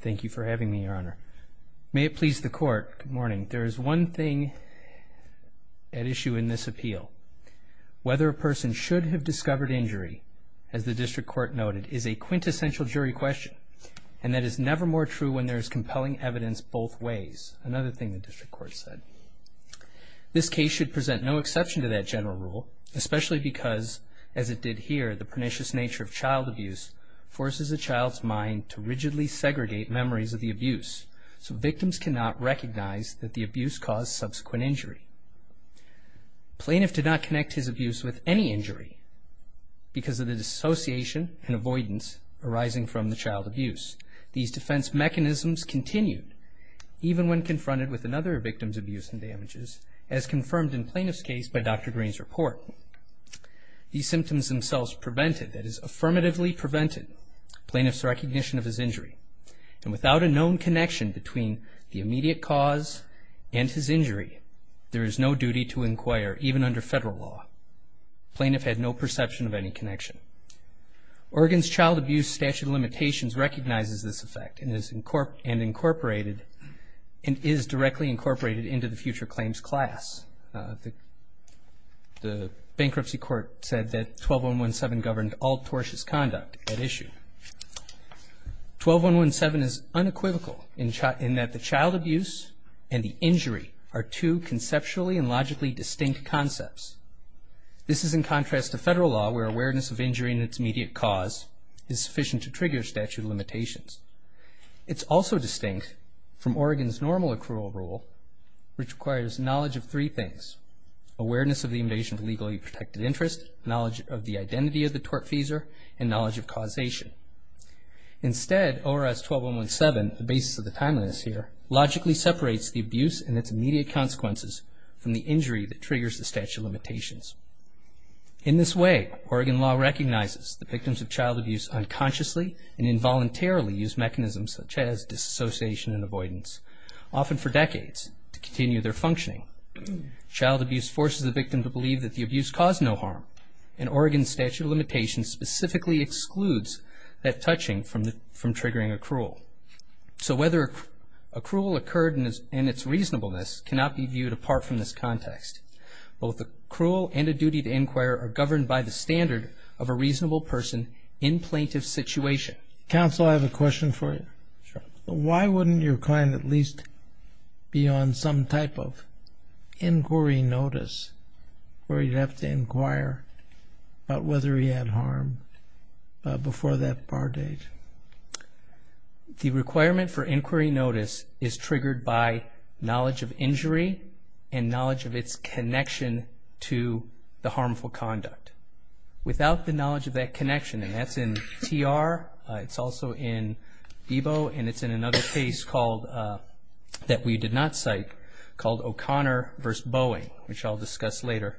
Thank you for having me, Your Honor. May it please the Court, good morning. There is one thing at issue in this appeal. Whether a person should have discovered injury, as the District Court noted, is a quintessential jury question, and that is never more true when there is compelling evidence both ways, another thing the District Court said. This case should present no exception to that general rule, especially because, as it did here, the pernicious of the abuse, so victims cannot recognize that the abuse caused subsequent injury. Plaintiff did not connect his abuse with any injury because of the dissociation and avoidance arising from the child abuse. These defense mechanisms continued even when confronted with another victim's abuse and damages, as confirmed in Plaintiff's case by Dr. Green's report. These symptoms themselves prevented, that is, affirmatively prevented, Plaintiff's recognition of his injury, and without a known connection between the immediate cause and his injury, there is no duty to inquire, even under federal law. Plaintiff had no perception of any connection. Oregon's Child Abuse Statute of Limitations recognizes this effect and is directly incorporated into the future claims class. The bankruptcy court said that 12-117 governed all tortious conduct at issue. 12-117 is unequivocal in that the child abuse and the injury are two conceptually and logically distinct concepts. This is in contrast to federal law, where awareness of injury and its immediate cause is sufficient to trigger statute of limitations. It's also distinct from Oregon's normal accrual rule, which requires knowledge of three things, awareness of the invasion of legally protected interest, knowledge of the identity of the tortfeasor, and knowledge of causation. Instead, ORS 12-117, the basis of the timeliness here, logically separates the abuse and its immediate consequences from the injury that triggers the statute of limitations. In this way, Oregon law recognizes the victims of child abuse unconsciously and involuntarily use mechanisms such as disassociation and avoidance, often for decades, to continue their functioning. Child abuse forces the victim to believe that the abuse caused no harm, and Oregon's statute of limitations specifically excludes that touching from triggering accrual. So whether accrual occurred in its reasonableness cannot be viewed apart from this context. Both accrual and a duty to inquire are governed by the standard of a reasonable person in plaintiff's situation. Counsel, I have a question for you. Why wouldn't your client at least be on some type of inquiry notice, where he'd have to inquire about whether he had harm before that bar date? The requirement for inquiry notice is triggered by knowledge of injury and knowledge of its connection to the harmful conduct. Without the knowledge of that connection, and that's in TR, it's also in EBO, and it's in another case that we did not cite called O'Connor v. Boeing, which I'll discuss later,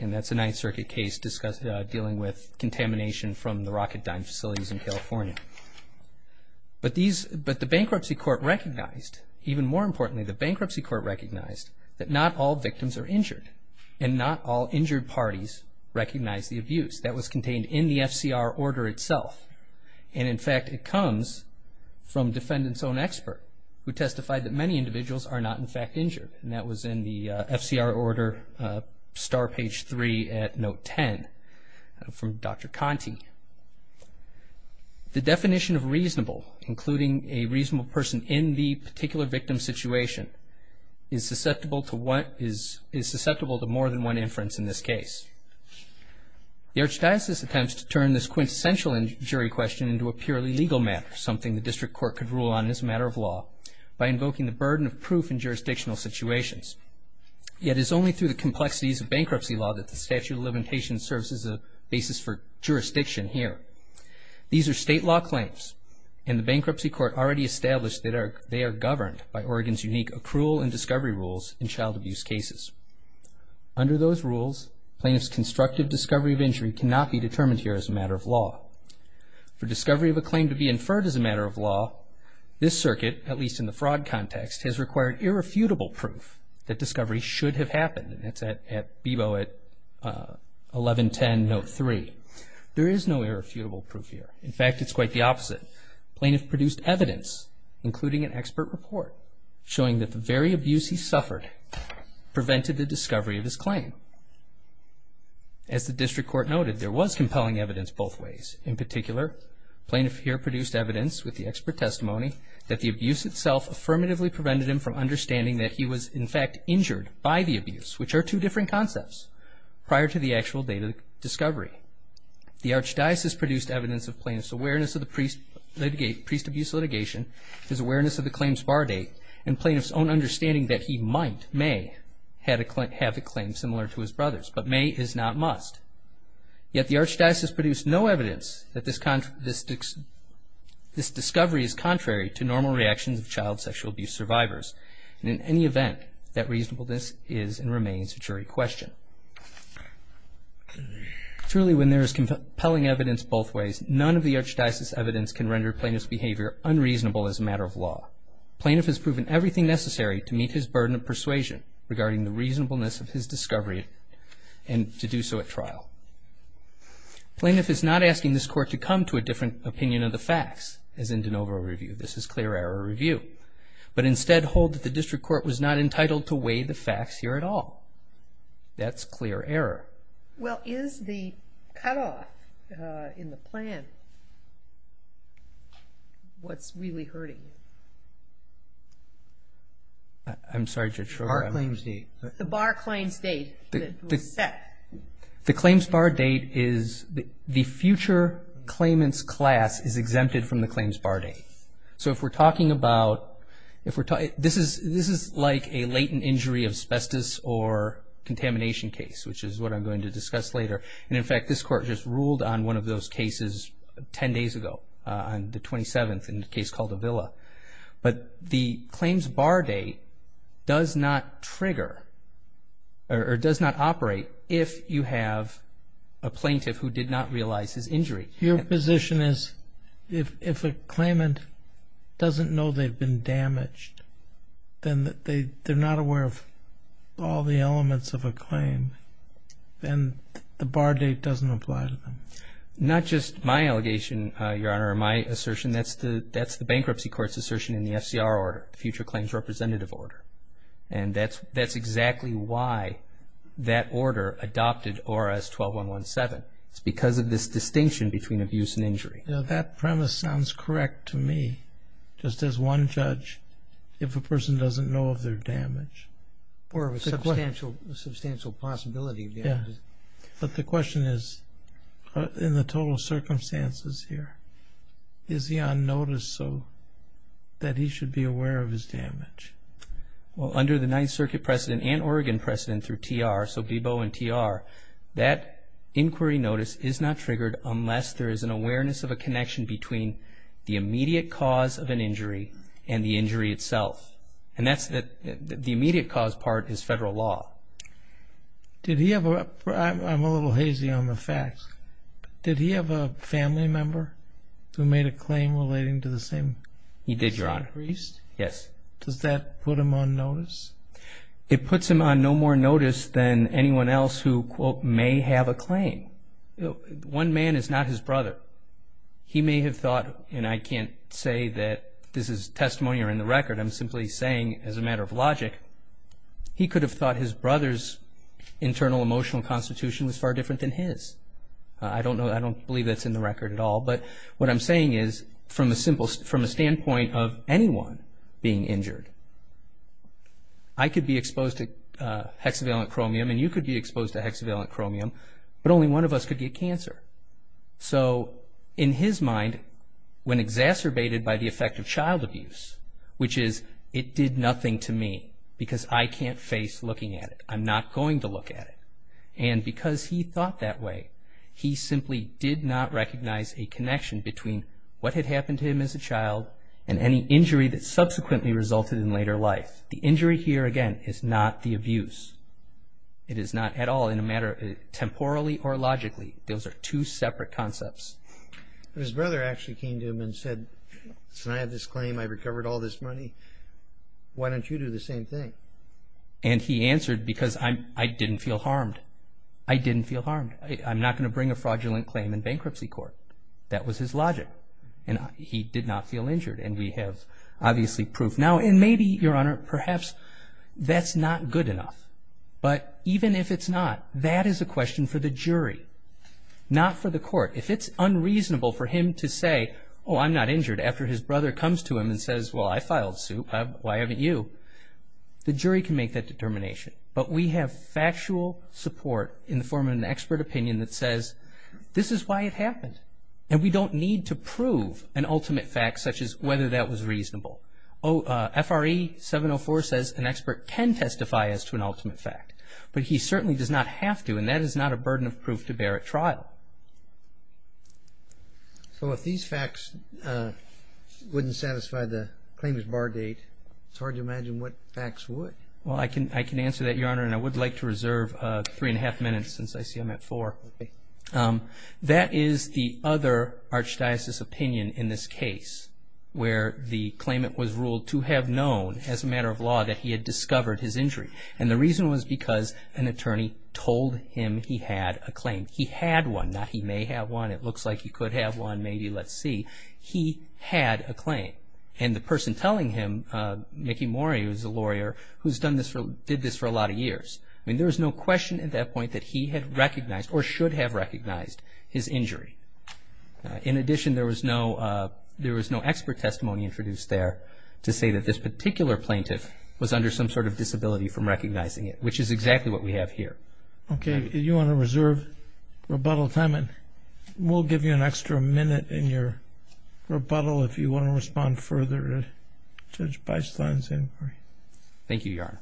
and that's a Ninth Circuit case dealing with contamination from the Rocketdyne facilities in California. But the bankruptcy court recognized, even more importantly, the bankruptcy court recognized that not all victims are injured, and not all injured parties recognize the abuse. That was contained in the FCR order itself, and in fact it comes from defendant's own expert, who testified that many individuals are not in fact injured, and that was in the FCR order, star page 3 at note 10, from Dr. Conte. The definition of reasonable, including a reasonable person in the particular victim situation, is susceptible to more than one inference in this case. The Archdiocese attempts to turn this quintessential injury question into a purely legal matter, something the plaintiff can't do in jurisdictional situations. Yet it's only through the complexities of bankruptcy law that the statute of limitations serves as a basis for jurisdiction here. These are state law claims, and the bankruptcy court already established that they are governed by Oregon's unique accrual and discovery rules in child abuse cases. Under those rules, plaintiff's constructive discovery of injury cannot be determined here as a matter of law. For discovery of a claim to be inferred as a matter of law, this circuit, at least in the fraud context, has required irrefutable proof that discovery should have happened. That's at Bebo at 1110 note 3. There is no irrefutable proof here. In fact, it's quite the opposite. Plaintiff produced evidence, including an expert report, showing that the very abuse he suffered prevented the discovery of his claim. As the district court noted, there was compelling evidence both ways. In particular, plaintiff here produced evidence with the expert testimony that the discovery prevented him from understanding that he was, in fact, injured by the abuse, which are two different concepts, prior to the actual date of discovery. The archdiocese produced evidence of plaintiff's awareness of the priest abuse litigation, his awareness of the claims bar date, and plaintiff's own understanding that he might, may, have a claim similar to his brother's. But may is not must. Yet the archdiocese produced no evidence that this discovery is contrary to normal reactions of child sexual abuse survivors. In any event, that reasonableness is and remains a jury question. Truly, when there is compelling evidence both ways, none of the archdiocese evidence can render plaintiff's behavior unreasonable as a matter of law. Plaintiff has proven everything necessary to meet his burden of persuasion regarding the reasonableness of his discovery and to do so at trial. Plaintiff is not asking this court to come to a different opinion of the facts, as in de novo review. This is clear error review. But instead hold that the district court was not entitled to weigh the facts here at all. That's clear error. Well, is the cutoff in the plan what's really hurting you? I'm sorry, Judge Schroeder. Bar claims date. The bar claims date that was set. The claims bar date is the future claimant's class is exempted from the claims bar date. So if we're talking about, if we're talking, this is like a latent injury of asbestos or contamination case, which is what I'm going to discuss later. And in fact, this court just ruled on one of those cases 10 days ago on the 27th in the case called Avila. But the claims bar date does not trigger or does not operate if you have a plaintiff who did not realize his injury. Your position is if a claimant doesn't know they've been damaged, then they're not aware of all the elements of a claim, then the bar date doesn't apply to them. Not just my allegation, Your Honor, or my assertion. That's the bankruptcy court's assertion in the FCR order, the Future Claims Representative Order. And that's exactly why that order adopted ORS 12117. It's because of this distinction between abuse and injury. That premise sounds correct to me. Just as one judge, if a person doesn't know of their damage or of a substantial possibility of damage. But the question is, in the total circumstances here, is he on notice so that he's aware of his damage? Well, under the Ninth Circuit precedent and Oregon precedent through TR, so Bebo and TR, that inquiry notice is not triggered unless there is an awareness of a connection between the immediate cause of an injury and the injury itself. And that's the immediate cause part is federal law. Did he ever, I'm a little hazy on the facts, but did he have a family member who made a claim relating to the same? He did, Your Honor. The same priest? Yes. Does that put him on notice? It puts him on no more notice than anyone else who, quote, may have a claim. One man is not his brother. He may have thought, and I can't say that this is testimony or in the record, I'm simply saying as a matter of logic, he could have thought his brother's internal emotional constitution was far different than his. I don't know, I don't believe that's in the record at all, but what I'm saying is from a standpoint of anyone being injured, I could be exposed to hexavalent chromium and you could be exposed to hexavalent chromium, but only one of us could get cancer. So in his mind, when exacerbated by the effect of child abuse, which is it did nothing to me because I can't face looking at it, I'm not going to look at it. And because he thought that way, he simply did not recognize a connection between what had happened to him as a child and any injury that subsequently resulted in later life. The injury here, again, is not the abuse. It is not at all in a matter of temporally or logically. Those are two separate concepts. His brother actually came to him and said, since I have this claim, I've recovered all this money, why don't you do the same thing? And he answered, because I didn't feel harmed. I didn't feel harmed. I'm not going to bring a fraudulent claim in bankruptcy court. That was his logic. And he did not feel injured and we have obviously proof now. And maybe, Your Honor, perhaps that's not good enough, but even if it's not, that is a question for the jury, not for the court. If it's unreasonable for him to say, oh, I'm not injured after his brother comes to him and says, well, I The jury can make that determination, but we have factual support in the form of an expert opinion that says, this is why it happened. And we don't need to prove an ultimate fact such as whether that was reasonable. FRE 704 says an expert can testify as to an ultimate fact, but he certainly does not have to and that is not a burden of proof to bear at trial. So if these facts wouldn't satisfy the claimant's bar date, it's hard to imagine what facts would. Well, I can answer that, Your Honor, and I would like to reserve three and a half minutes since I see I'm at four. That is the other archdiocese opinion in this case where the claimant was ruled to have known as a matter of law that he had discovered his injury. And the reason was because an attorney told him he had a claim. He had one, not he may have one, it looks like he could have one, maybe, let's see. He had a claim. And the who's done this for, did this for a lot of years. I mean, there was no question at that point that he had recognized or should have recognized his injury. In addition, there was no, there was no expert testimony introduced there to say that this particular plaintiff was under some sort of disability from recognizing it, which is exactly what we have here. Okay. You want to reserve rebuttal time and we'll give you an extra minute in your rebuttal Thank you, Your Honor.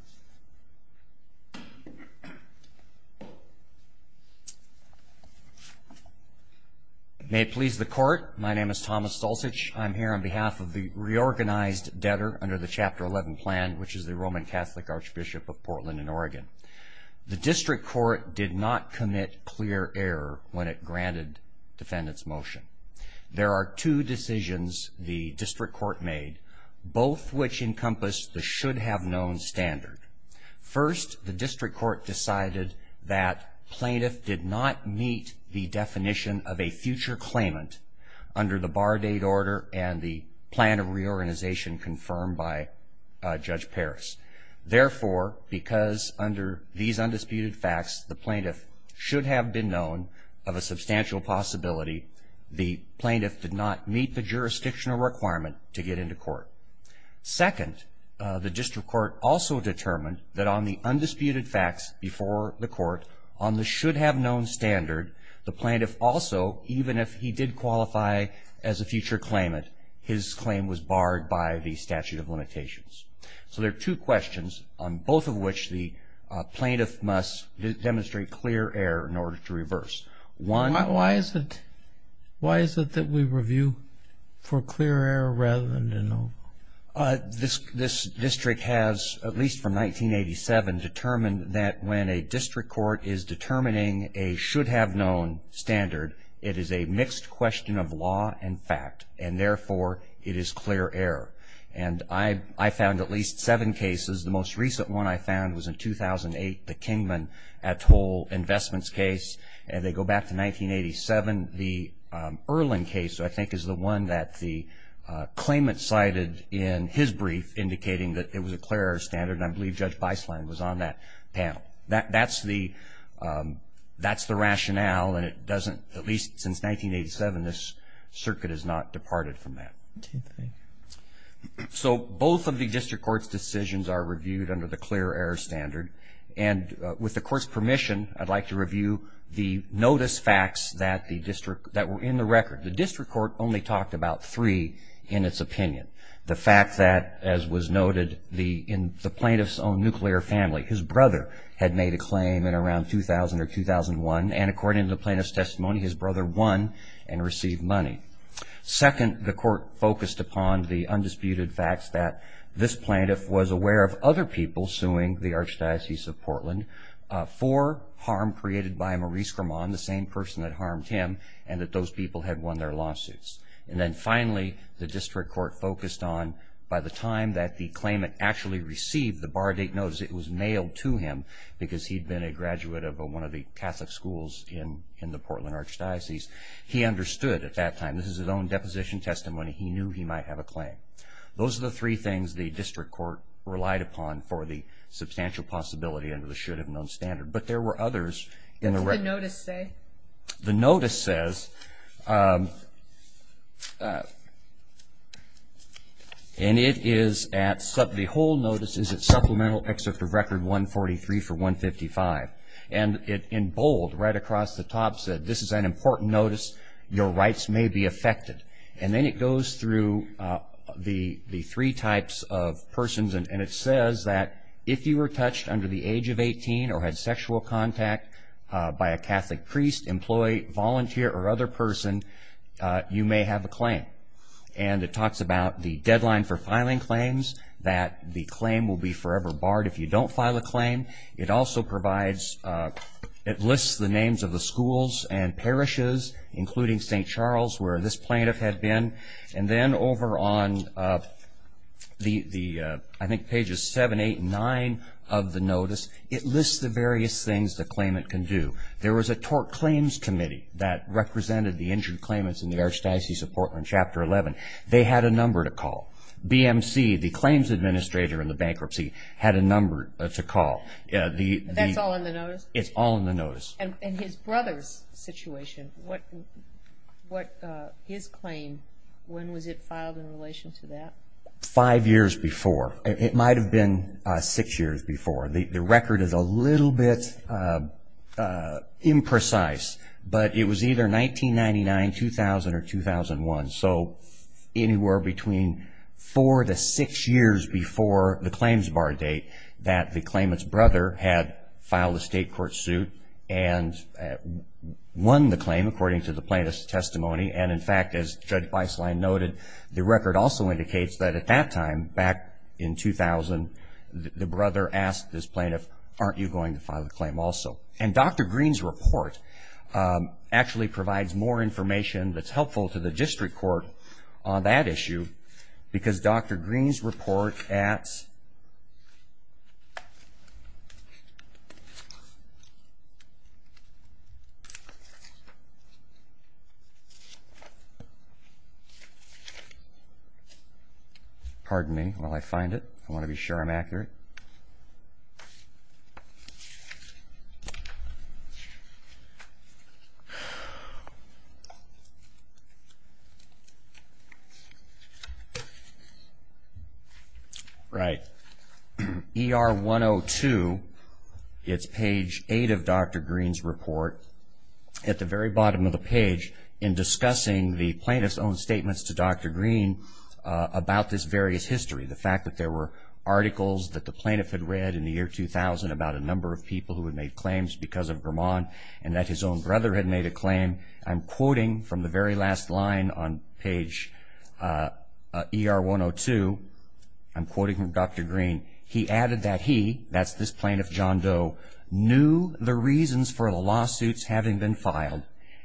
May it please the court. My name is Thomas Stolzich. I'm here on behalf of the reorganized debtor under the Chapter 11 plan, which is the Roman Catholic Archbishop of Portland and Oregon. The district court did not commit clear error when it granted defendant's motion. There are two decisions the district court made, both which encompass the should have known standard. First, the district court decided that plaintiff did not meet the definition of a future claimant under the bar date order and the plan of reorganization confirmed by Judge Paris. Therefore, because under these undisputed facts, the plaintiff should have been known of a substantial possibility, the plaintiff did not meet the jurisdictional requirement to get into court. Second, the district court also determined that on the undisputed facts before the court on the should have known standard, the plaintiff also, even if he did qualify as a future claimant, his claim was barred by the statute of limitations. So there are two questions on both of which the plaintiff must demonstrate clear error in order to reverse. Why is it that we review for clear error rather than to know? This district has, at least from 1987, determined that when a district court is determining a should have known standard, it is a mixed question of law and fact, and therefore, it is clear error. I found at least seven cases. The most recent one I found was in 2008, the case, and they go back to 1987. The Erlin case, I think, is the one that the claimant cited in his brief indicating that it was a clear error standard, and I believe Judge Beisland was on that panel. That's the rationale, and it doesn't, at least since 1987, this circuit has not departed from that. So both of the district court's decisions are reviewed under the clear error standard, and with the court's permission, I'd like to review the notice facts that were in the record. The district court only talked about three in its opinion. The fact that, as was noted, in the plaintiff's own nuclear family, his brother had made a claim in around 2000 or 2001, and according to the plaintiff's testimony, his brother won and received money. Second, the court focused upon the undisputed facts that this plaintiff was aware of other people suing the Archdiocese of Portland for harm created by Maurice Grimond, the same person that harmed him, and that those people had won their lawsuits. And then finally, the district court focused on, by the time that the claimant actually received the bar date notice, it was mailed to him because he'd been a graduate of one of the Catholic schools in the Portland Archdiocese. He understood at that time, this is his own deposition testimony, he knew he might have a claim. Those are the three things the district court relied upon for the substantial possibility under the should-have-known standard. But there were others in the record. What does the notice say? The notice says, and it is at, the whole notice is at Supplemental Excerpt of Record 143 for 155. And it, in bold, right across the top said, this is an important notice, your rights may be affected. And then it goes through the three types of persons, and it says that if you were touched under the age of 18 or had sexual contact by a Catholic priest, employee, volunteer, or other person, you may have a claim. And it talks about the deadline for filing claims, that the claim will be forever barred if you don't file a claim. It also tells where this plaintiff had been. And then over on the, I think pages 7, 8, and 9 of the notice, it lists the various things the claimant can do. There was a tort claims committee that represented the injured claimants in the Archdiocese of Portland, Chapter 11. They had a number to call. BMC, the claims administrator in the bankruptcy, had a number to call. That's all in the notice? It's all in the notice. And his brother's situation, what, his claim, when was it filed in relation to that? Five years before. It might have been six years before. The record is a little bit imprecise, but it was either 1999, 2000, or 2001. So anywhere between four to six years before the claims bar date that the claimant's brother had filed a state court suit and won the claim according to the plaintiff's testimony. And in fact, as Judge Beislein noted, the record also indicates that at that time, back in 2000, the brother asked this plaintiff, aren't you going to file a claim also? And Dr. Green's report actually provides more information that's helpful to the district court on that issue, because Dr. Green's report at... Pardon me while I find it. I want to be sure I'm accurate. Right. ER 102, it's page eight of Dr. Green's report. At the very bottom of the page, in discussing the plaintiff's own statements to Dr. Green about this various history, the fact that there were articles that the plaintiff had read in the year 2000 about a number of people who had made claims because of Vermont, and that his own brother had made a claim. I'm quoting from the very last line on page ER 102. I'm quoting from Dr. Green. He added that he, that's this plaintiff John Doe, knew the reasons for the lawsuits having been filed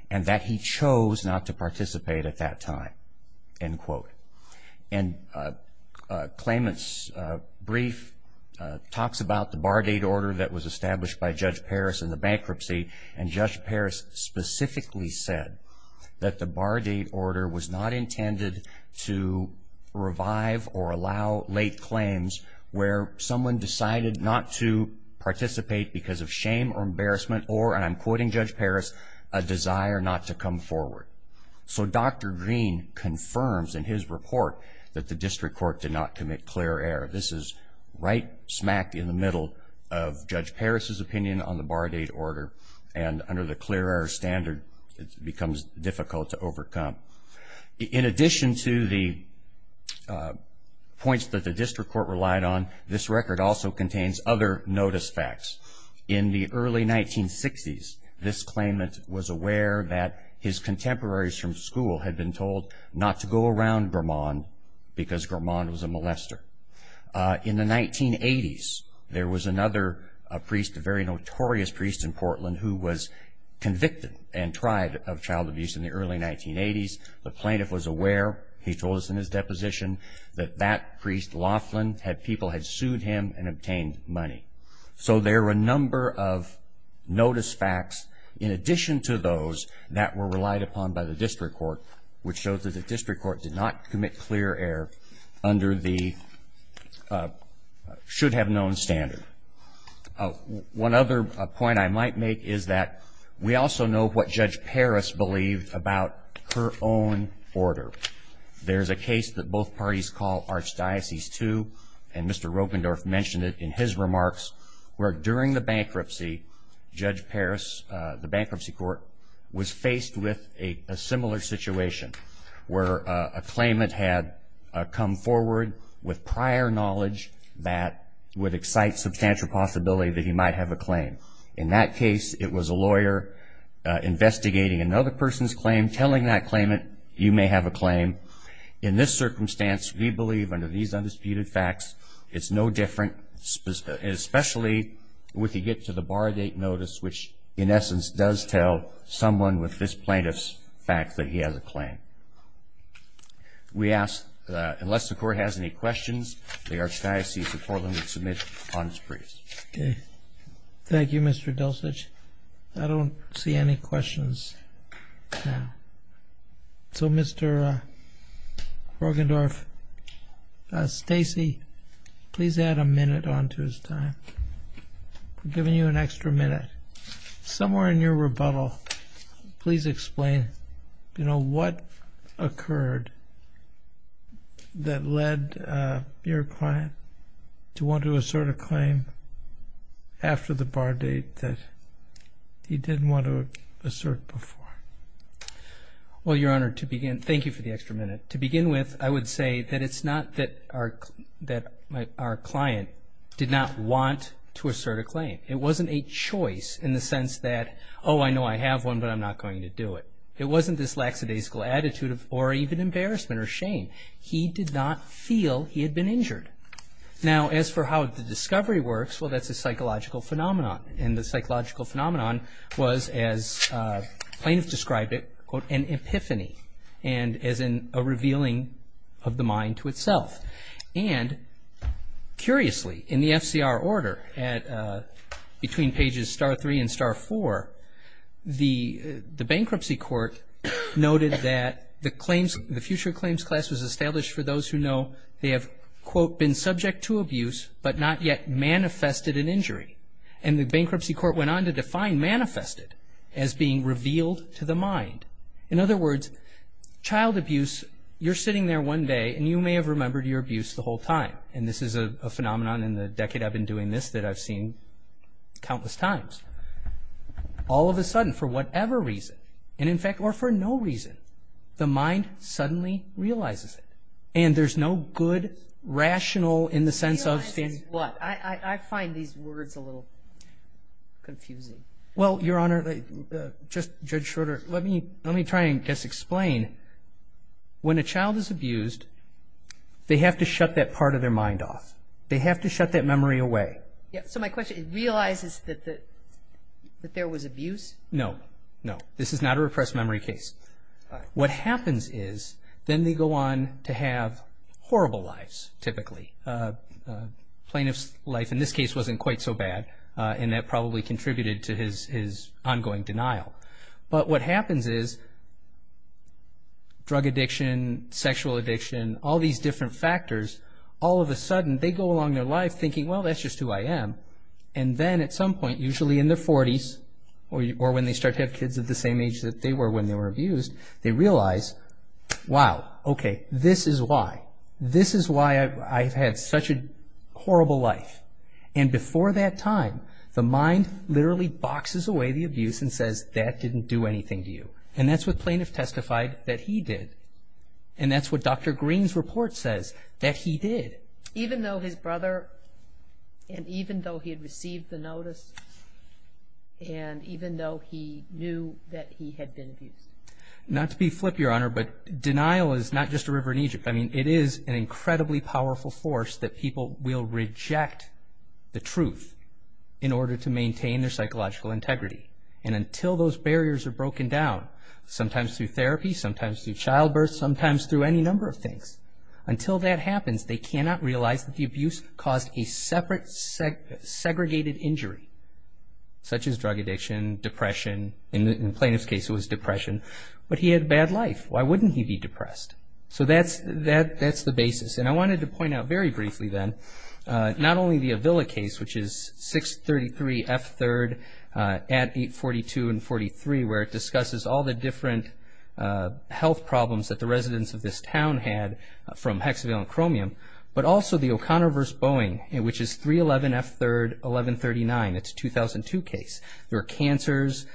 and that he chose not to participate at that time, end quote. And claimant's brief talks about the bar date order that was established by Judge Paris in the bankruptcy, and Judge Green actually said that the bar date order was not intended to revive or allow late claims where someone decided not to participate because of shame or embarrassment or, and I'm quoting Judge Paris, a desire not to come forward. So Dr. Green confirms in his report that the district court did not commit clear error. This is right smack in the middle of Judge Green's case. It becomes difficult to overcome. In addition to the points that the district court relied on, this record also contains other notice facts. In the early 1960s, this claimant was aware that his contemporaries from school had been told not to go around Vermont because Vermont was a molester. In the 1980s, there was another priest, a very prominent of child abuse in the early 1980s. The plaintiff was aware, he told us in his deposition, that that priest, Laughlin, had, people had sued him and obtained money. So there were a number of notice facts in addition to those that were relied upon by the district court, which shows that the district court did not commit clear error under the should have known standard. One other point I might make is that we also know what Judge Paris believed about her own order. There's a case that both parties call Archdiocese II, and Mr. Roggendorf mentioned it in his remarks, where during the bankruptcy, Judge Paris, the bankruptcy court, was faced with a similar situation where a claimant had come forward with prior knowledge that would excite substantial possibility that he might have a claim. In that case, it was a lawyer investigating another person's claim, telling that claimant, you may have a claim. In this circumstance, we believe under these undisputed facts, it's no different, especially with the get to the bar date notice, which in essence does tell someone with this plaintiff's facts that he has a claim. We ask, unless the court has any questions, the Archdiocese of Portland would submit on this brief. Okay. Thank you, Mr. Delcich. I don't see any questions now. So, Mr. Roggendorf, Stacey, please add a minute on to his time. I'm giving you an extra minute. Somewhere in your rebuttal, please explain, you know, what occurred that led your client to want to assert a claim after the bar date that he didn't want to assert before? Well, Your Honor, to begin, thank you for the extra minute. To begin with, I would say that it's not that our client did not want to assert a claim. It wasn't a choice in the case of the plaintiff. He did not feel that he had been injured. Now, as for how the discovery works, well, that's a psychological phenomenon, and the psychological phenomenon was, as plaintiffs described it, an epiphany, and as in a revealing of the mind to itself. And, curiously, in the FCR order, between pages star 3 and star 4, the bankruptcy court noted that the future claims class was established for those who know they have, quote, been subject to abuse, but not yet manifested an injury. And the bankruptcy court went on to define manifested as being revealed to the mind. In other words, child abuse, you're sitting there one day, and you may have remembered your abuse the whole time, and this is a phenomenon in the decade I've been doing this that I've seen countless times. All of a sudden, for whatever reason, and in fact, or for no reason, the mind suddenly realizes it, and there's no good, rational, in the sense of, I find these words a little confusing. Well, Your Honor, just, Judge Schroeder, let me try and just explain. When a child is abused, they have to shut that part of their mind off. They have to shut that memory away. Yeah, so my question, it realizes that there was abuse? No, no. This is not a repressed memory case. What happens is, then they go on to have horrible lives, typically. A plaintiff's life, in this case, wasn't quite so bad, and that probably contributed to his ongoing denial. But what happens is, drug addiction, sexual addiction, all these different factors, all of a sudden, they go along their life thinking, well, that's just who I am. And then, at some point, usually in their 40s, or when they start to have kids at the same age that they were when they were abused, they realize, wow, okay, this is why. This is why I've had such a horrible life. And before that time, the mind literally boxes away the abuse and says, that didn't do anything to you. And that's what plaintiff testified that he did. And that's what Dr. Green's report says that he did. Even though his brother, and even though he had received the notice, and even though he knew that he had been abused. Not to be flippy, Your Honor, but denial is not just a river in Egypt. I mean, it is an incredibly powerful force that people will reject the truth in order to maintain their psychological integrity. And until those barriers are broken down, sometimes through therapy, sometimes through childbirth, sometimes through any number of things, until that happens, they cannot realize that the abuse caused a separate, segregated injury, such as drug addiction, depression. In the plaintiff's case, it was depression. But he had a bad life. Why wouldn't he be depressed? So that's the basis. And I wanted to point out very briefly then, not only the Avila case, which is 633 F3rd at 842 and 43, where it discusses all the different health problems that the residents of this town had from hexavalent chromium, but also the O'Connor v. Boeing, which is 311 F3rd 1139. It's a 2002 case. There were cancers.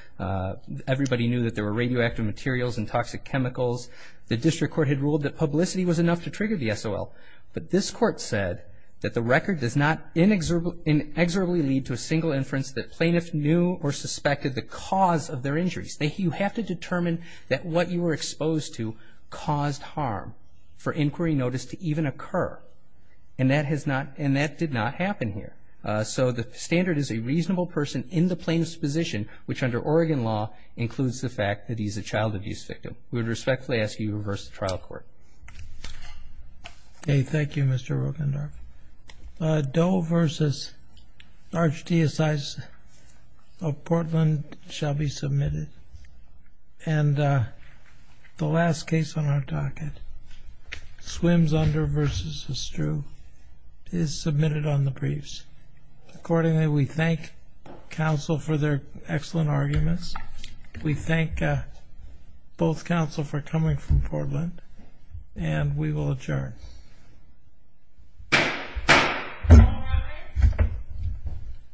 Everybody knew that there were radioactive materials and toxic chemicals. The district court had ruled that publicity was enough to trigger the SOL. But this court said that the record does not inexorably lead to a single inference that plaintiffs knew or suspected the cause of their injuries. You have to determine that what you were exposed to caused harm for inquiry notice to even if it did not happen here. So the standard is a reasonable person in the plaintiff's position, which under Oregon law includes the fact that he's a child abuse victim. We would respectfully ask you to reverse the trial court. Okay. Thank you, Mr. Rogendorf. Doe v. Archdiocese of Portland shall be submitted. And the last case on our docket, Swims Under v. Astru, is submitted on the briefs. Accordingly, we thank counsel for their excellent arguments. We thank both counsel for coming from Portland, and we will adjourn.